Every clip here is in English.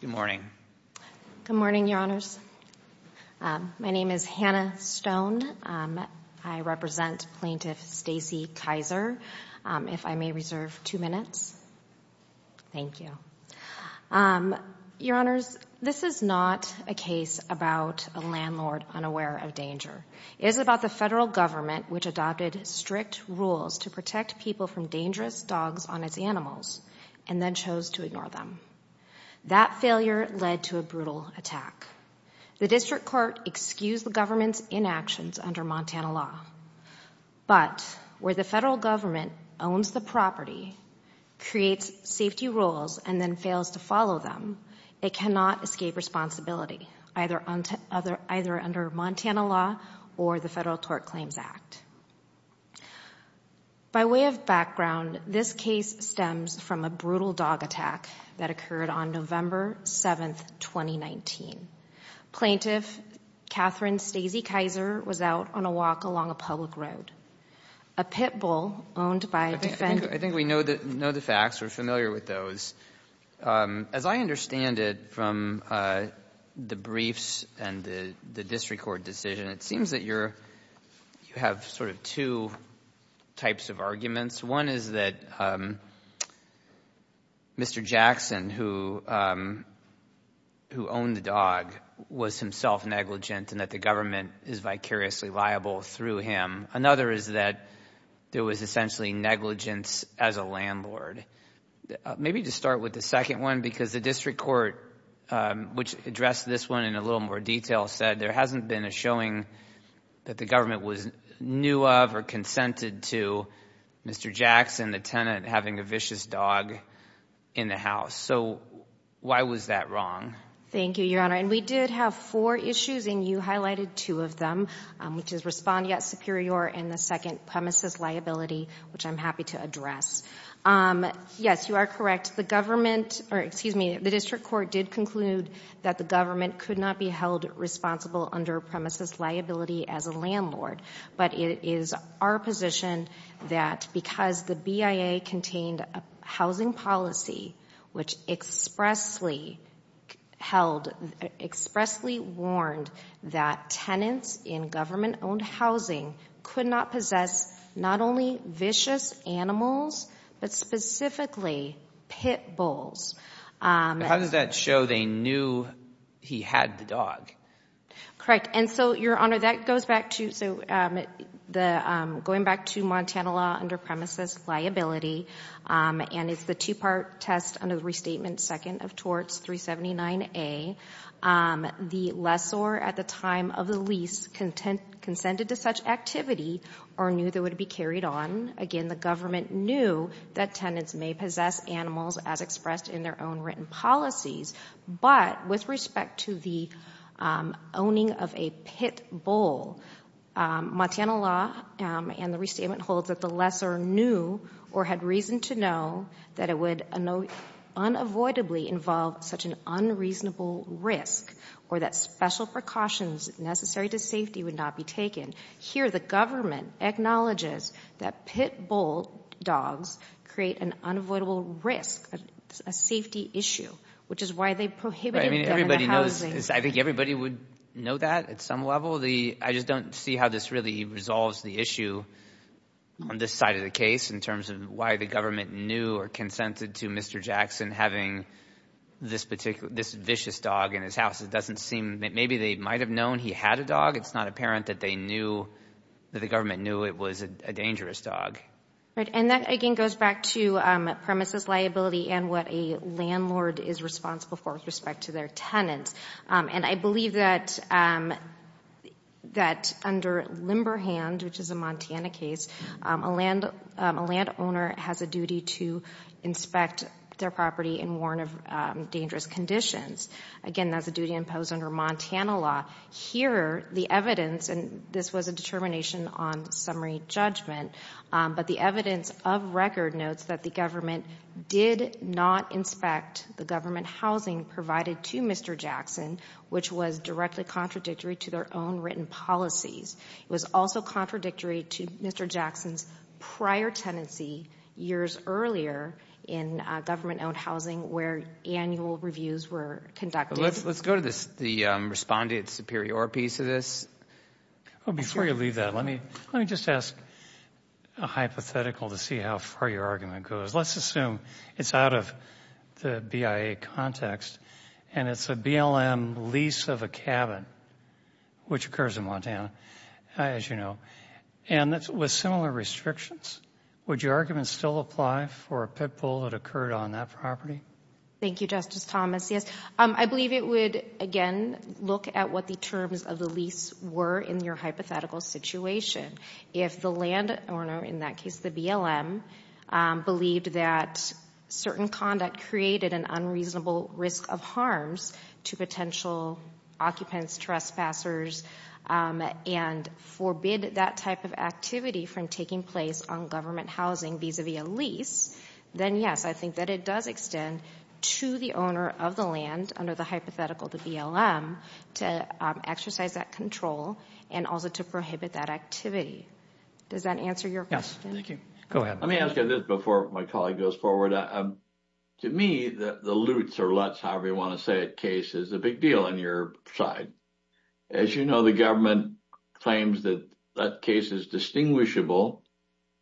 Good morning. Good morning, Your Honors. My name is Hannah Stone. I represent Plaintiff Stacy Kiser. If I may reserve two minutes. Thank you. Your Honors, this is not a case about a landlord unaware of danger. It is about the federal government, which adopted strict rules to protect people from dangerous dogs on its animals, and then chose to ignore them. That failure led to a brutal attack. The district court excused the government's inactions under Montana law. But where the federal government owns the property, creates safety rules, and then fails to follow them, it cannot escape responsibility, either under Montana law or the Federal Tort Claims Act. By way of background, this case stems from a brutal dog attack that occurred on November 7th, 2019. Plaintiff Catherine Stacy Kiser was out on a walk along a public road. A pit bull owned by a defendant — I think we know the facts, we're familiar with those. As I understand it from the briefs and the district court decision, it seems that you have sort of two types of arguments. One is that Mr. Jackson, who owned the dog, was himself negligent, and that the government is vicariously liable through him. Another is that there was essentially negligence as a landlord. Maybe to start with the second one, because the district court, which addressed this one in a little more detail, said there hasn't been a showing that the government was new of or consented to Mr. Jackson, the tenant, having a vicious dog in the house. So why was that wrong? Thank you, Your Honor. And we did have four issues, and you highlighted two of them, which is respondeat superior and the second, premises liability, which I'm happy to address. Yes, you are correct. The district court did conclude that the government could not be held responsible under premises liability as a landlord, but it is our position that because the BIA contained a housing policy which expressly warned that tenants in government-owned housing could not possess not only vicious animals but specifically pit bulls. How does that show they knew he had the dog? Correct. And so, Your Honor, that goes back to going back to Montana law under premises liability, and it's the two-part test under the restatement second of torts 379A. The lessor at the time of the lease consented to such activity or knew that it would be carried on. Again, the government knew that tenants may possess animals as expressed in their own written policies, but with respect to the owning of a pit bull, Montana law and the reason to know that it would unavoidably involve such an unreasonable risk or that special precautions necessary to safety would not be taken, here the government acknowledges that pit bull dogs create an unavoidable risk, a safety issue, which is why they prohibited them in the housing. I mean, everybody knows. I think everybody would know that at some level. I just don't see how this really resolves the issue on this side of the case in terms of why the government knew or consented to Mr. Jackson having this vicious dog in his house. It doesn't seem that maybe they might have known he had a dog. It's not apparent that the government knew it was a dangerous dog. And that, again, goes back to premises liability and what a landlord is responsible for with respect to their tenants. And I believe that under Limberhand, which is a Montana case, a landowner has a duty to inspect their property and warn of dangerous conditions. Again, that's a duty imposed under Montana law. Here the evidence, and this was a determination on summary judgment, but the evidence of record notes that the government did not inspect the government housing provided to Mr. Jackson, which was directly contradictory to their own written policies. It was also contradictory to Mr. Jackson's prior tenancy years earlier in government owned housing where annual reviews were conducted. Let's go to the respondent superior piece of this. Before you leave that, let me just ask a hypothetical to see how far your argument goes. Let's assume it's out of the BIA context and it's a BLM lease of a cabin, which occurs in Montana, as you know, and with similar restrictions. Would your argument still apply for a pit bull that occurred on that property? Thank you, Justice Thomas. I believe it would, again, look at what the terms of the lease were in your hypothetical situation. If the landowner, in that case the BLM, believed that certain conduct created an unreasonable risk of harms to potential occupants, trespassers, and forbid that type of activity from taking place on government housing vis-a-vis a lease, then yes, I think that it does extend to the owner of the land under the hypothetical, the BLM, to exercise that control and also to prohibit that activity. Does that answer your question? Thank you. Go ahead. Let me ask you this before my colleague goes forward. To me, the LUTs or LUTs, however you want to say it, case is a big deal on your side. As you know, the government claims that that case is distinguishable.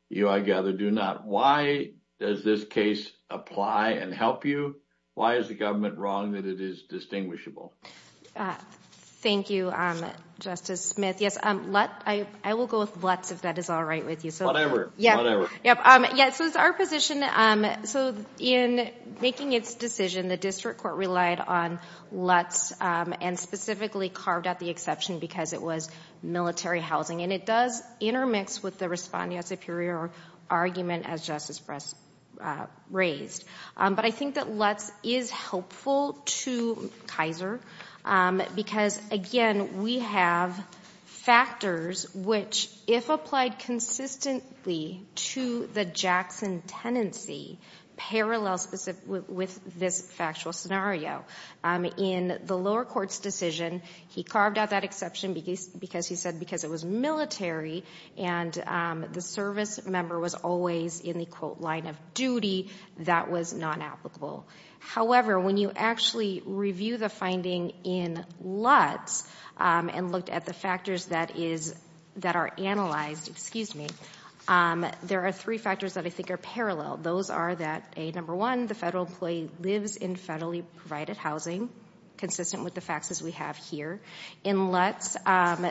You I gather do not. Why does this case apply and help you? Why is the government wrong that it is distinguishable? Thank you, Justice Smith. Yes, LUTs. I will go with LUTs if that is all right with you. Yes. So it's our position. So in making its decision, the district court relied on LUTs and specifically carved out the exception because it was military housing, and it does intermix with the respondeat superior argument as Justice Brett raised. But I think that LUTs is helpful to Kaiser because, again, we have factors which, if applied consistently to the Jackson tenancy, parallel with this factual scenario. In the lower court's decision, he carved out that exception because he said because it was military and the service member was always in the, quote, line of duty, that was not applicable. However, when you actually review the finding in LUTs and looked at the factors that are analyzed, there are three factors that I think are parallel. Those are that, number one, the federal employee lives in federally provided housing, consistent with the facts as we have here. In LUTs,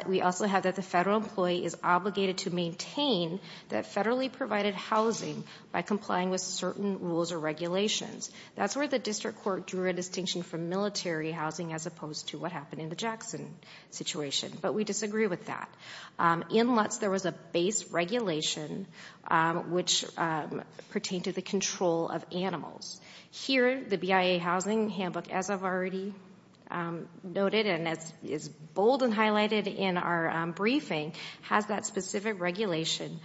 we also have that the federal employee is obligated to maintain that federally provided housing by complying with certain rules or regulations. That's where the district court drew a distinction from military housing as opposed to what happened in the Jackson situation, but we disagree with that. In LUTs, there was a base regulation which pertained to the control of animals. Here, the BIA housing handbook, as I've already noted and as is bold and highlighted in our briefing, has that specific regulation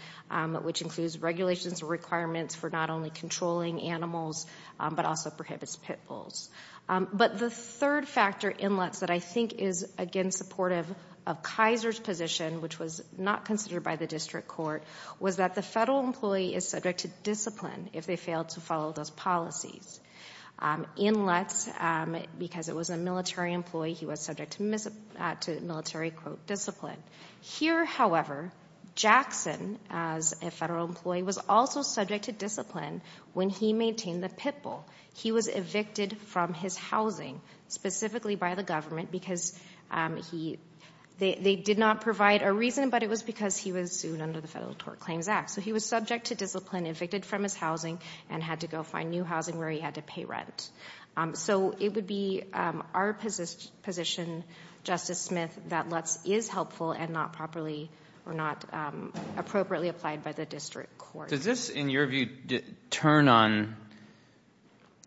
which includes regulations and requirements for not only controlling animals but also prohibits pit bulls. The third factor in LUTs that I think is, again, supportive of Kaiser's position, which was not considered by the district court, was that the federal employee is subject to discipline if they failed to follow those policies. In LUTs, because it was a military employee, he was subject to military, quote, discipline. Here, however, Jackson, as a federal employee, was also subject to discipline when he maintained the pit bull. He was evicted from his housing specifically by the government because they did not provide a reason, but it was because he was sued under the Federal Tort Claims Act, so he was subject to discipline, evicted from his housing, and had to go find new housing where he had to pay rent. So it would be our position, Justice Smith, that LUTs is helpful and not appropriately applied by the district court. Does this, in your view, turn on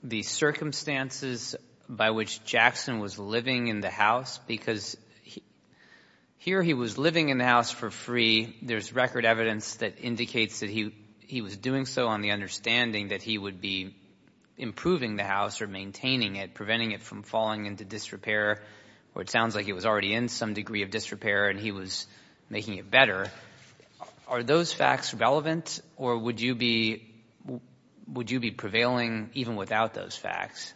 the circumstances by which Jackson was living in the house? Because here he was living in the house for free. There's record evidence that indicates that he was doing so on the understanding that he would be improving the house or maintaining it, preventing it from falling into disrepair, or it sounds like it was already in some degree of disrepair and he was making it better. Are those facts relevant, or would you be prevailing even without those facts?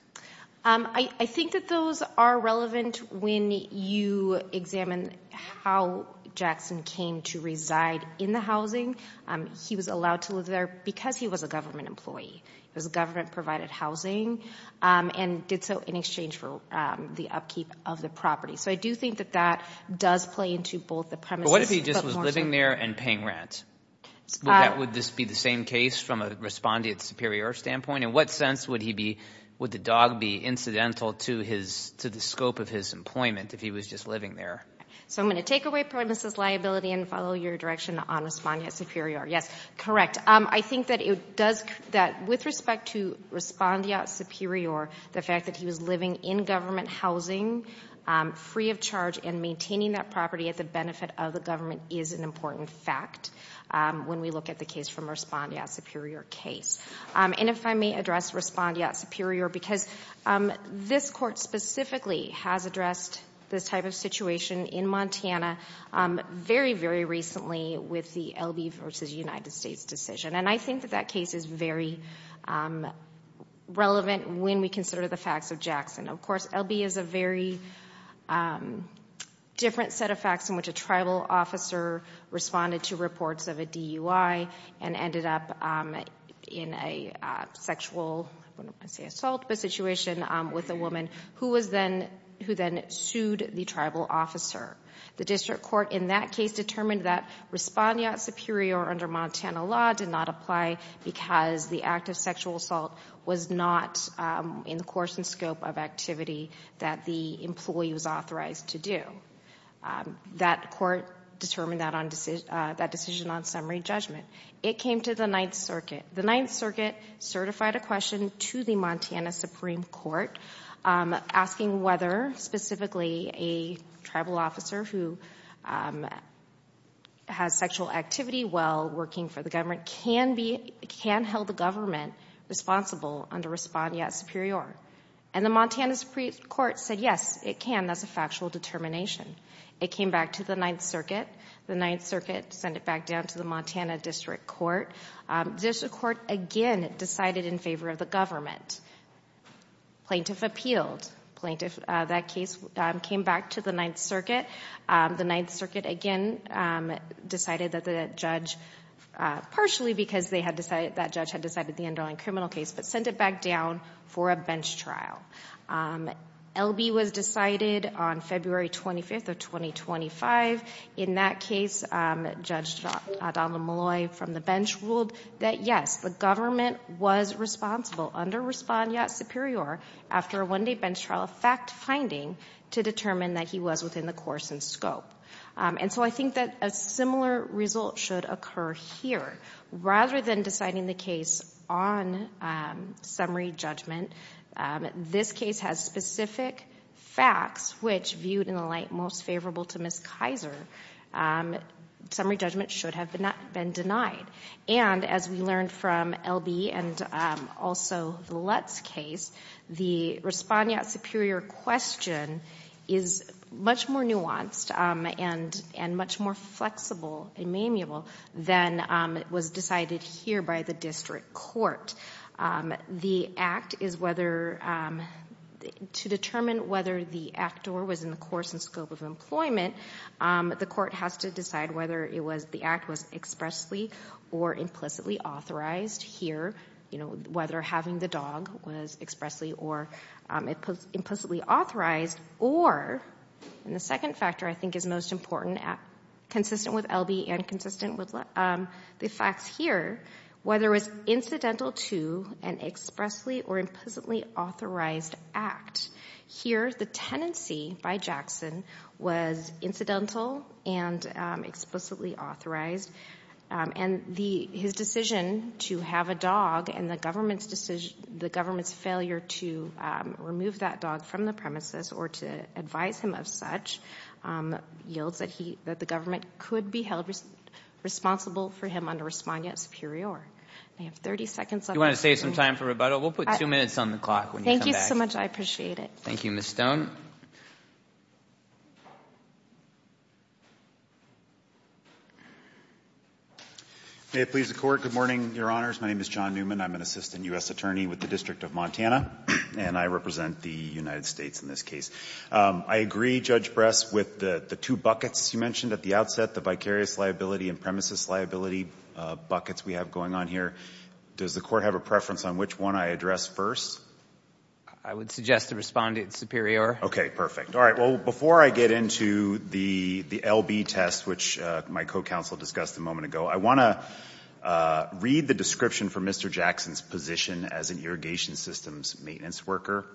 I think that those are relevant when you examine how Jackson came to reside in the housing. He was allowed to live there because he was a government employee. It was government-provided housing and did so in exchange for the upkeep of the property. So I do think that that does play into both the premises. What if he just was living there and paying rent? Would this be the same case from a respondent superior standpoint? In what sense would the dog be incidental to the scope of his employment if he was just living there? So I'm going to take away premises liability and follow your direction on respondent superior. Yes, correct. I think that with respect to respondent superior, the fact that he was living in government housing free of charge and maintaining that property at the benefit of the government is an important fact when we look at the case from respondent superior case. And if I may address respondent superior, because this court specifically has addressed this type of situation in Montana very, very recently with the LB v. United States decision. And I think that that case is very relevant when we consider the facts of Jackson. Of course, LB is a very different set of facts in which a tribal officer responded to reports of a DUI and ended up in a sexual assault situation with a woman who then sued the tribal officer. The district court in that case determined that respondent superior under Montana law did not apply because the act of sexual assault was not in the course and scope of activity that the employee was authorized to do. That court determined that decision on summary judgment. It came to the Ninth Circuit. The Ninth Circuit certified a question to the Montana Supreme Court asking whether specifically a tribal officer who has sexual activity while working for the government can hold the government responsible under respondent superior. And the Montana Supreme Court said yes, it can. And that's a factual determination. It came back to the Ninth Circuit. The Ninth Circuit sent it back down to the Montana District Court. District Court again decided in favor of the government. Plaintiff appealed. That case came back to the Ninth Circuit. The Ninth Circuit again decided that the judge, partially because that judge had decided the underlying criminal case, but sent it back down for a bench trial. LB was decided on February 25th of 2025. In that case, Judge Donald Molloy from the bench ruled that yes, the government was responsible under respondent superior after a one-day bench trial fact-finding to determine that he was within the course and scope. And so I think that a similar result should occur here. Rather than deciding the case on summary judgment, this case has specific facts which viewed in the light most favorable to Ms. Kaiser. Summary judgment should have not been denied. And as we learned from LB and also the Lutz case, the respondent superior question is much more nuanced and much more flexible and malleable than was decided here by the District Court. The act is whether... to determine whether the actor was in the course and scope of employment, the court has to decide whether the act was expressly or implicitly authorized here, whether having the dog was expressly or implicitly authorized, or, and the second factor I think is most important, consistent with LB and consistent with the facts here, whether it was incidental to an expressly or implicitly authorized act. Here, the tenancy by Jackson was incidental and explicitly authorized. And his decision to have a dog and the government's failure to remove that dog from the premises or to advise him of such, yields that the government could be held responsible for him under respondent superior. I have 30 seconds left. Do you want to save some time for rebuttal? We'll put two minutes on the clock when you come back. Thank you so much. I appreciate it. Thank you, Ms. Stone. May it please the Court. Good morning, Your Honors. My name is John Newman. I'm an assistant U.S. attorney with the District of Montana, and I represent the United States in this case. I agree, Judge Bress, with the two buckets you mentioned at the outset, the vicarious liability and premises liability buckets we have going on here. Does the Court have a preference on which one I address first? I would suggest the respondent superior. Okay, perfect. All right, well, before I get into the L.B. test, which my co-counsel discussed a moment ago, I want to read the description for Mr. Jackson's position as an irrigation systems maintenance worker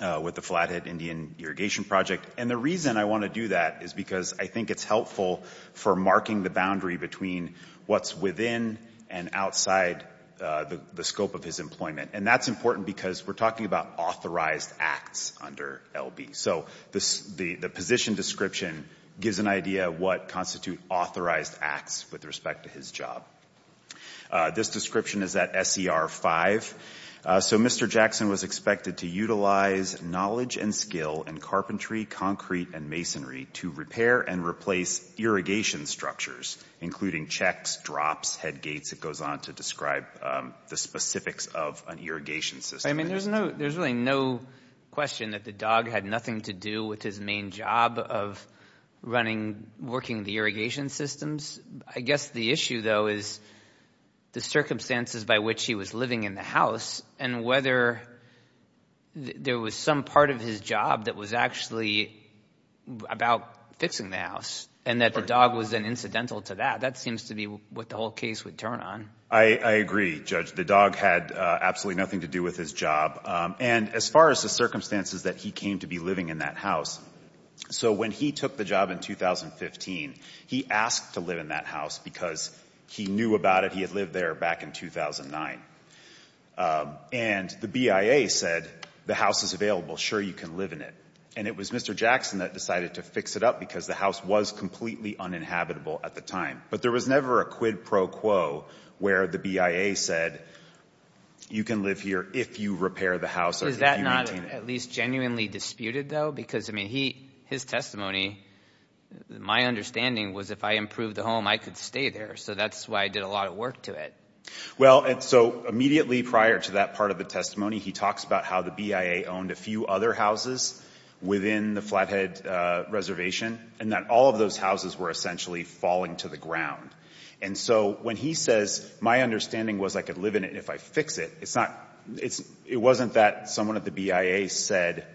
with the Flathead Indian Irrigation Project. And the reason I want to do that is because I think it's helpful for marking the boundary between what's within and outside the scope of his employment. And that's important because we're talking about authorized acts under L.B. So the position description gives an idea of what constitute authorized acts with respect to his job. This description is at S.E.R. 5. So Mr. Jackson was expected to utilize knowledge and skill in carpentry, concrete, and masonry to repair and replace irrigation structures, including checks, drops, headgates. It goes on to describe the specifics of an irrigation system. Judge, I mean, there's really no question that the dog had nothing to do with his main job of running, working the irrigation systems. I guess the issue, though, is the circumstances by which he was living in the house and whether there was some part of his job that was actually about fixing the house and that the dog was then incidental to that. That seems to be what the whole case would turn on. I agree, Judge. The dog had absolutely nothing to do with his job. And as far as the circumstances that he came to be living in that house, so when he took the job in 2015, he asked to live in that house because he knew about it. He had lived there back in 2009. And the BIA said, the house is available. Sure, you can live in it. And it was Mr. Jackson that decided to fix it up because the house was completely uninhabitable at the time. But there was never a quid pro quo where the BIA said, you can live here if you repair the house or if you maintain it. Is that not at least genuinely disputed, though? Because, I mean, his testimony, my understanding was if I improved the home, I could stay there. So that's why I did a lot of work to it. Well, and so immediately prior to that part of the testimony, he talks about how the BIA owned a few other houses within the Flathead Reservation and that all of those houses were essentially falling to the ground. And so when he says, my understanding was I could live in it if I fix it, it wasn't that someone at the BIA said,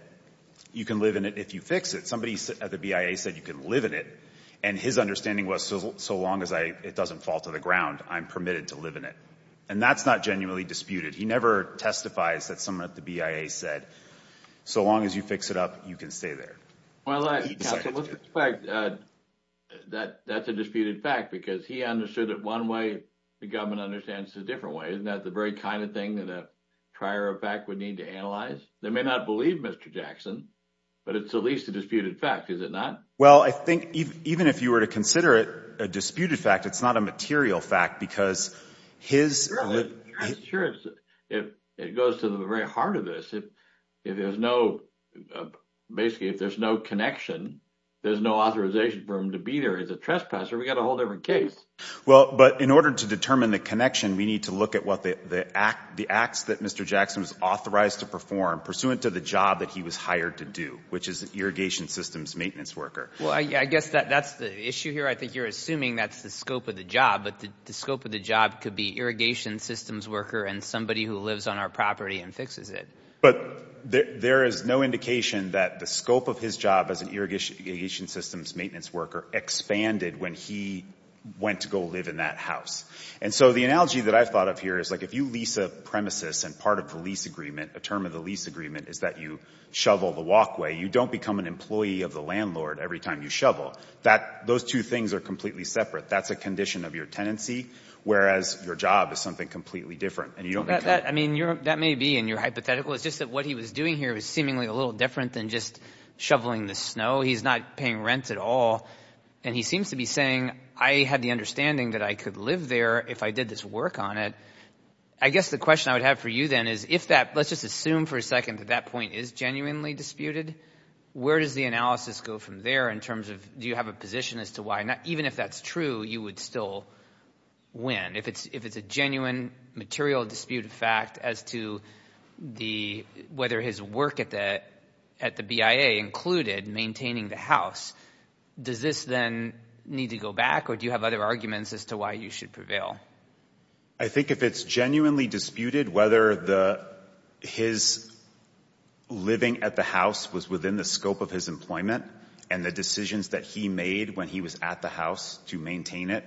you can live in it if you fix it. Somebody at the BIA said, you can live in it. And his understanding was, so long as it doesn't fall to the ground, I'm permitted to live in it. And that's not genuinely disputed. He never testifies that someone at the BIA said, so long as you fix it up, you can stay there. Well, that's a disputed fact, because he understood it one way, the government understands it a different way. Isn't that the very kind of thing that a prior fact would need to analyze? They may not believe Mr. Jackson, but it's at least a disputed fact, is it not? Well, I think even if you were to consider it a disputed fact, it's not a material fact because his... Sure, it goes to the very heart of this. Basically, if there's no connection, there's no authorization for him to be there as a trespasser. We got a whole different case. Well, but in order to determine the connection, we need to look at the acts that Mr. Jackson was authorized to perform pursuant to the job that he was hired to do, which is an irrigation systems maintenance worker. Well, I guess that's the issue here. I think you're assuming that's the scope of the job, but the scope of the job could be and somebody who lives on our property and fixes it. But there is no indication that the scope of his job as an irrigation systems maintenance worker expanded when he went to go live in that house. And so the analogy that I've thought of here is like if you lease a premises and part of the lease agreement, a term of the lease agreement is that you shovel the walkway, you don't become an employee of the landlord every time you shovel. Those two things are completely separate. That's a condition of your tenancy, whereas your job is something completely different. And you don't. I mean, that may be in your hypothetical. It's just that what he was doing here was seemingly a little different than just shoveling the snow. He's not paying rent at all. And he seems to be saying, I had the understanding that I could live there if I did this work on it. I guess the question I would have for you then is if that let's just assume for a second that that point is genuinely disputed. Where does the analysis go from there in terms of do you have a position as to why not? Because even if that's true, you would still win if it's if it's a genuine material dispute of fact as to the whether his work at that at the BIA included maintaining the house. Does this then need to go back or do you have other arguments as to why you should prevail? I think if it's genuinely disputed, whether the his living at the house was within the house to maintain it,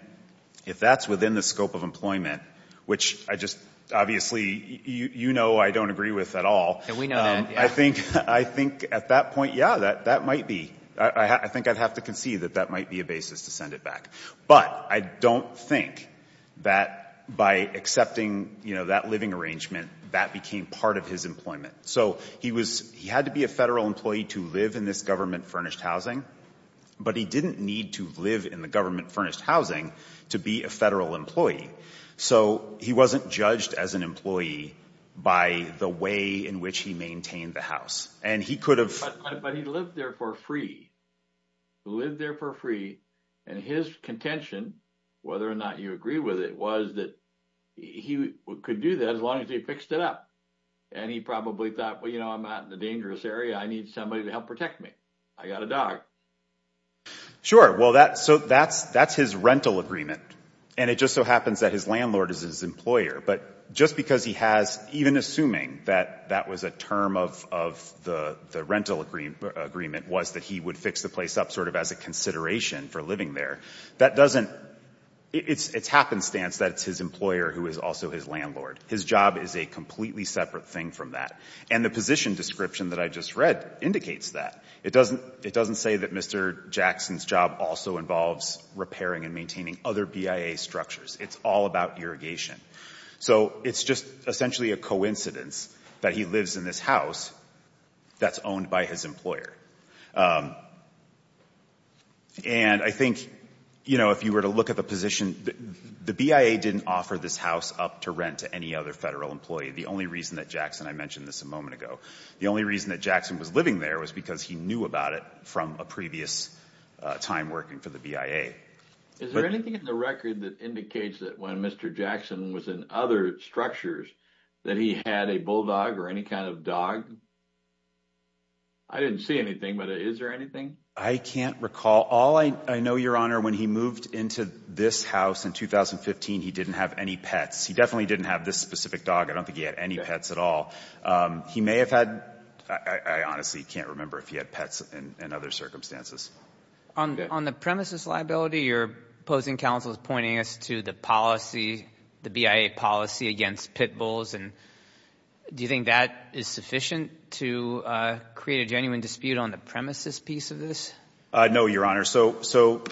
if that's within the scope of employment, which I just obviously, you know, I don't agree with at all. And we know that. I think I think at that point, yeah, that that might be I think I'd have to concede that that might be a basis to send it back. But I don't think that by accepting, you know, that living arrangement, that became part of his employment. So he was he had to be a federal employee to live in this government furnished housing. But he didn't need to live in the government furnished housing to be a federal employee. So he wasn't judged as an employee by the way in which he maintained the house. And he could have lived there for free, lived there for free. And his contention, whether or not you agree with it, was that he could do that as long as he fixed it up. And he probably thought, well, you know, I'm not in a dangerous area. I need somebody to help protect me. I got a dog. Well, that so that's that's his rental agreement. And it just so happens that his landlord is his employer. But just because he has even assuming that that was a term of of the rental agreement was that he would fix the place up sort of as a consideration for living there. That doesn't it's happenstance that it's his employer who is also his landlord. His job is a completely separate thing from that. And the position description that I just read indicates that. It doesn't it doesn't say that Mr. Jackson's job also involves repairing and maintaining other BIA structures. It's all about irrigation. So it's just essentially a coincidence that he lives in this house that's owned by his employer. And I think, you know, if you were to look at the position, the BIA didn't offer this house up to rent to any other federal employee. The only reason that Jackson I mentioned this a moment ago. The only reason that Jackson was living there was because he knew about it from a previous time working for the BIA. Is there anything in the record that indicates that when Mr. Jackson was in other structures that he had a bulldog or any kind of dog? I didn't see anything, but is there anything I can't recall? All I know, Your Honor, when he moved into this house in 2015, he didn't have any pets. He definitely didn't have this specific dog. I don't think he had any pets at all. He may have had, I honestly can't remember if he had pets in other circumstances. On the premises liability, your opposing counsel is pointing us to the policy, the BIA policy against pit bulls. And do you think that is sufficient to create a genuine dispute on the premises piece of this? No, Your Honor. So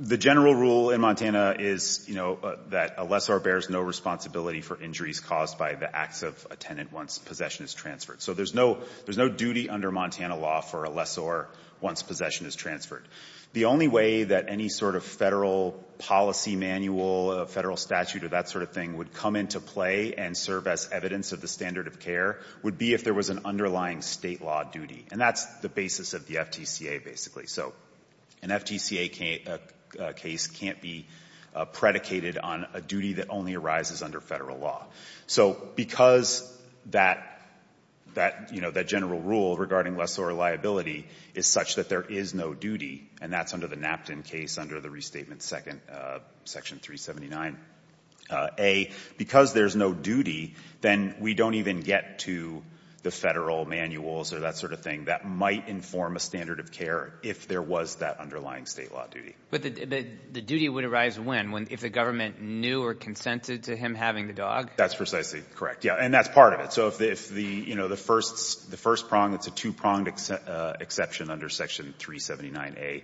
the general rule in Montana is, you know, that a lessor bears no responsibility for injuries caused by the acts of a tenant once possession is transferred. So there's no duty under Montana law for a lessor once possession is transferred. The only way that any sort of federal policy manual, federal statute, or that sort of thing would come into play and serve as evidence of the standard of care would be if there was an underlying state law duty. And that's the basis of the FTCA, basically. So an FTCA case can't be predicated on a duty that only arises under federal law. So because that, you know, that general rule regarding lessor liability is such that there is no duty, and that's under the Napton case under the restatement section 379A, because there's no duty, then we don't even get to the federal manuals or that sort of thing that might inform a standard of care if there was that underlying state law duty. But the duty would arise when? If the government knew or consented to him having the dog? That's precisely correct, yeah. And that's part of it. So if the, you know, the first prong, it's a two-pronged exception under section 379A.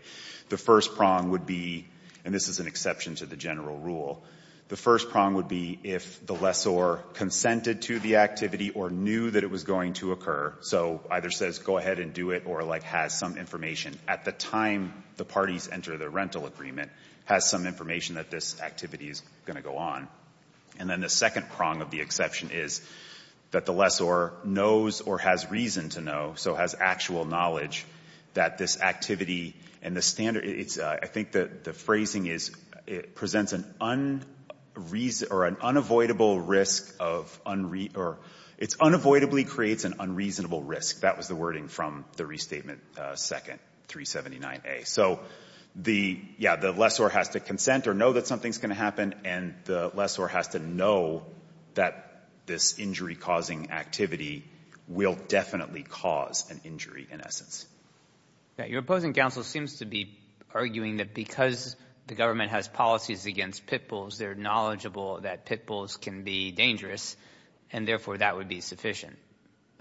The first prong would be, and this is an exception to the general rule, the first prong would be if the lessor consented to the activity or knew that it was going to occur. So either says go ahead and do it or, like, has some information at the time the parties enter the rental agreement, has some information that this activity is going to go on. And then the second prong of the exception is that the lessor knows or has reason to know, so has actual knowledge that this activity and the standard, I think the phrasing is it presents an unreasonable or an unavoidable risk of unreason or it's unavoidably creates an unreasonable risk. That was the wording from the restatement second, 379A. So the, yeah, the lessor has to consent or know that something's going to happen, and the lessor has to know that this injury-causing activity will definitely cause an injury in essence. Your opposing counsel seems to be arguing that because the government has policies against pit bulls, they're knowledgeable that pit bulls can be dangerous, and therefore that would be sufficient.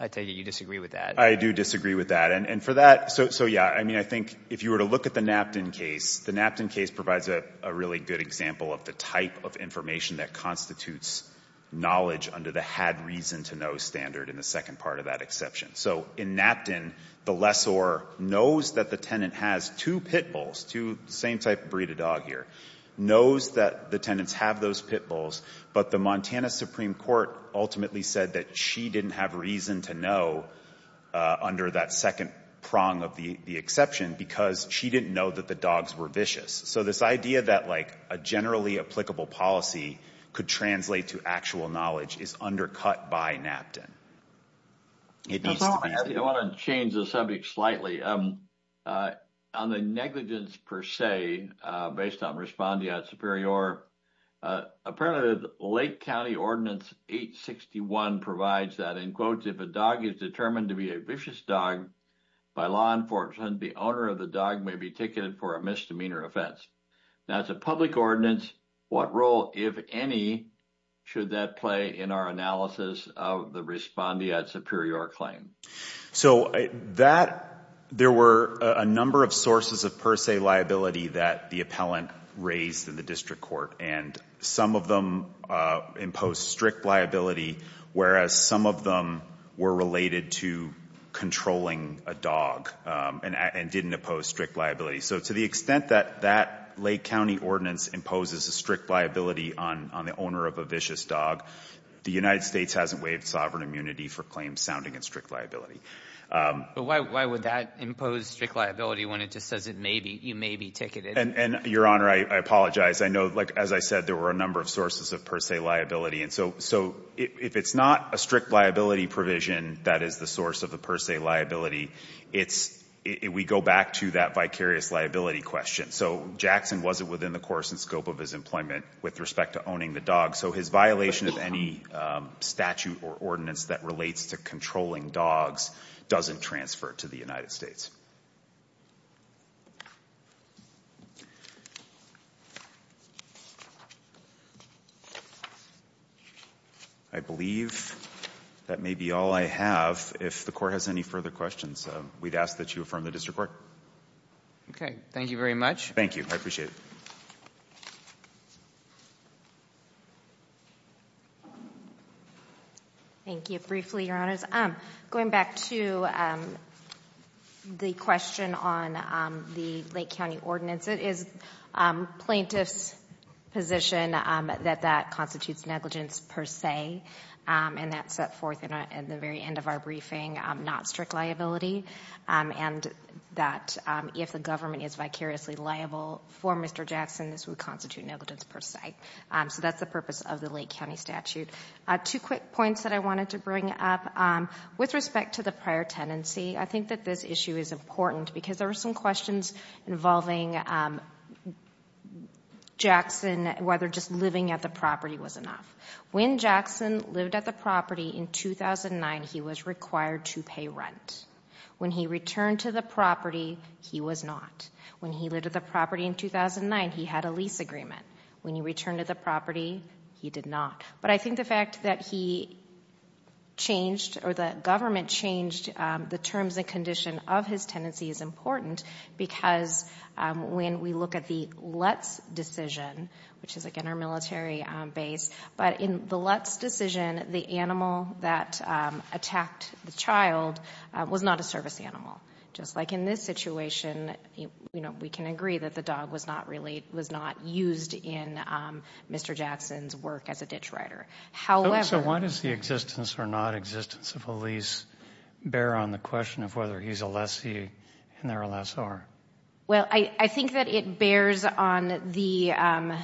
I take it you disagree with that. I do disagree with that. And for that, so, yeah, I mean, I think if you were to look at the Napton case, the Napton case provides a really good example of the type of information that constitutes knowledge under the had reason to know standard in the second part of that exception. So in Napton, the lessor knows that the tenant has two pit bulls, same type of breed of dog here, knows that the tenants have those pit bulls, but the Montana Supreme Court ultimately said that she didn't have reason to know under that second prong of the exception because she didn't know that the dogs were vicious. So this idea that, like, a generally applicable policy could translate to actual knowledge is undercut by Napton. It needs to be. I want to change the subject slightly. On the negligence per se, based on respondeat superior, apparently the Lake County Ordinance 861 provides that, in quotes, if a dog is determined to be a vicious dog by law enforcement, the owner of the dog may be ticketed for a misdemeanor offense. Now, it's a public ordinance. What role, if any, should that play in our analysis of the respondeat superior claim? So there were a number of sources of per se liability that the appellant raised in the district court, and some of them imposed strict liability, whereas some of them were related to controlling a dog and didn't oppose strict liability. So to the extent that that Lake County Ordinance imposes a strict liability on the owner of a vicious dog, the United States hasn't waived sovereign immunity for claims sounding in strict liability. But why would that impose strict liability when it just says it may be, you may be ticketed? And, Your Honor, I apologize. I know, like, as I said, there were a number of sources of per se liability. And so if it's not a strict liability provision that is the source of the per se liability, we go back to that vicarious liability question. So Jackson wasn't within the course and scope of his employment with respect to owning the dog, so his violation of any statute or ordinance that relates to controlling dogs doesn't transfer to the United States. I believe that may be all I have. If the court has any further questions, we'd ask that you affirm the district court. Okay. Thank you very much. Thank you. I appreciate it. Thank you. Briefly, Your Honors. Going back to the question about the per se liability, the question on the Lake County ordinance, it is plaintiff's position that that constitutes negligence per se, and that's set forth in the very end of our briefing, not strict liability, and that if the government is vicariously liable for Mr. Jackson, this would constitute negligence per se. So that's the purpose of the Lake County statute. Two quick points that I wanted to bring up. With respect to the prior tenancy, I think that this issue is important because there were some questions involving Jackson, whether just living at the property was enough. When Jackson lived at the property in 2009, he was required to pay rent. When he returned to the property, he was not. When he lived at the property in 2009, he had a lease agreement. When he returned to the property, he did not. But I think the fact that he changed or the government changed the terms and condition of his tenancy is important because when we look at the Lutz decision, which is, again, our military base, but in the Lutz decision, the animal that attacked the child was not a service animal, just like in this situation. We can agree that the dog was not used in Mr. Jackson's work as a ditch rider. So why does the existence or nonexistence of a lease bear on the question of whether he's a lessee and they're a lessor? Well, I think that it bears on the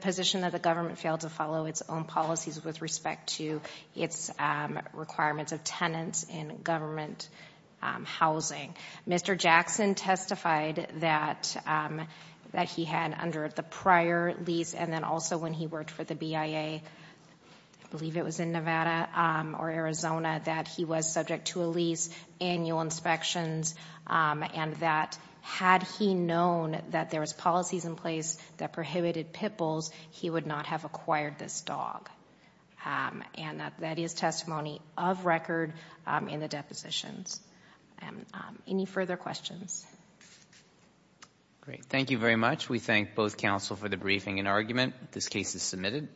position that the government failed to follow its own policies with respect to its requirements of tenants in government housing. Mr. Jackson testified that he had under the prior lease and then also when he worked for the BIA, I believe it was in Nevada or Arizona, that he was subject to a lease, annual inspections, and that had he known that there was policies in place that prohibited pit bulls, he would not have acquired this dog. And that is testimony of record in the depositions. Any further questions? Great. Thank you very much. We thank both counsel for the briefing and argument. This case is submitted.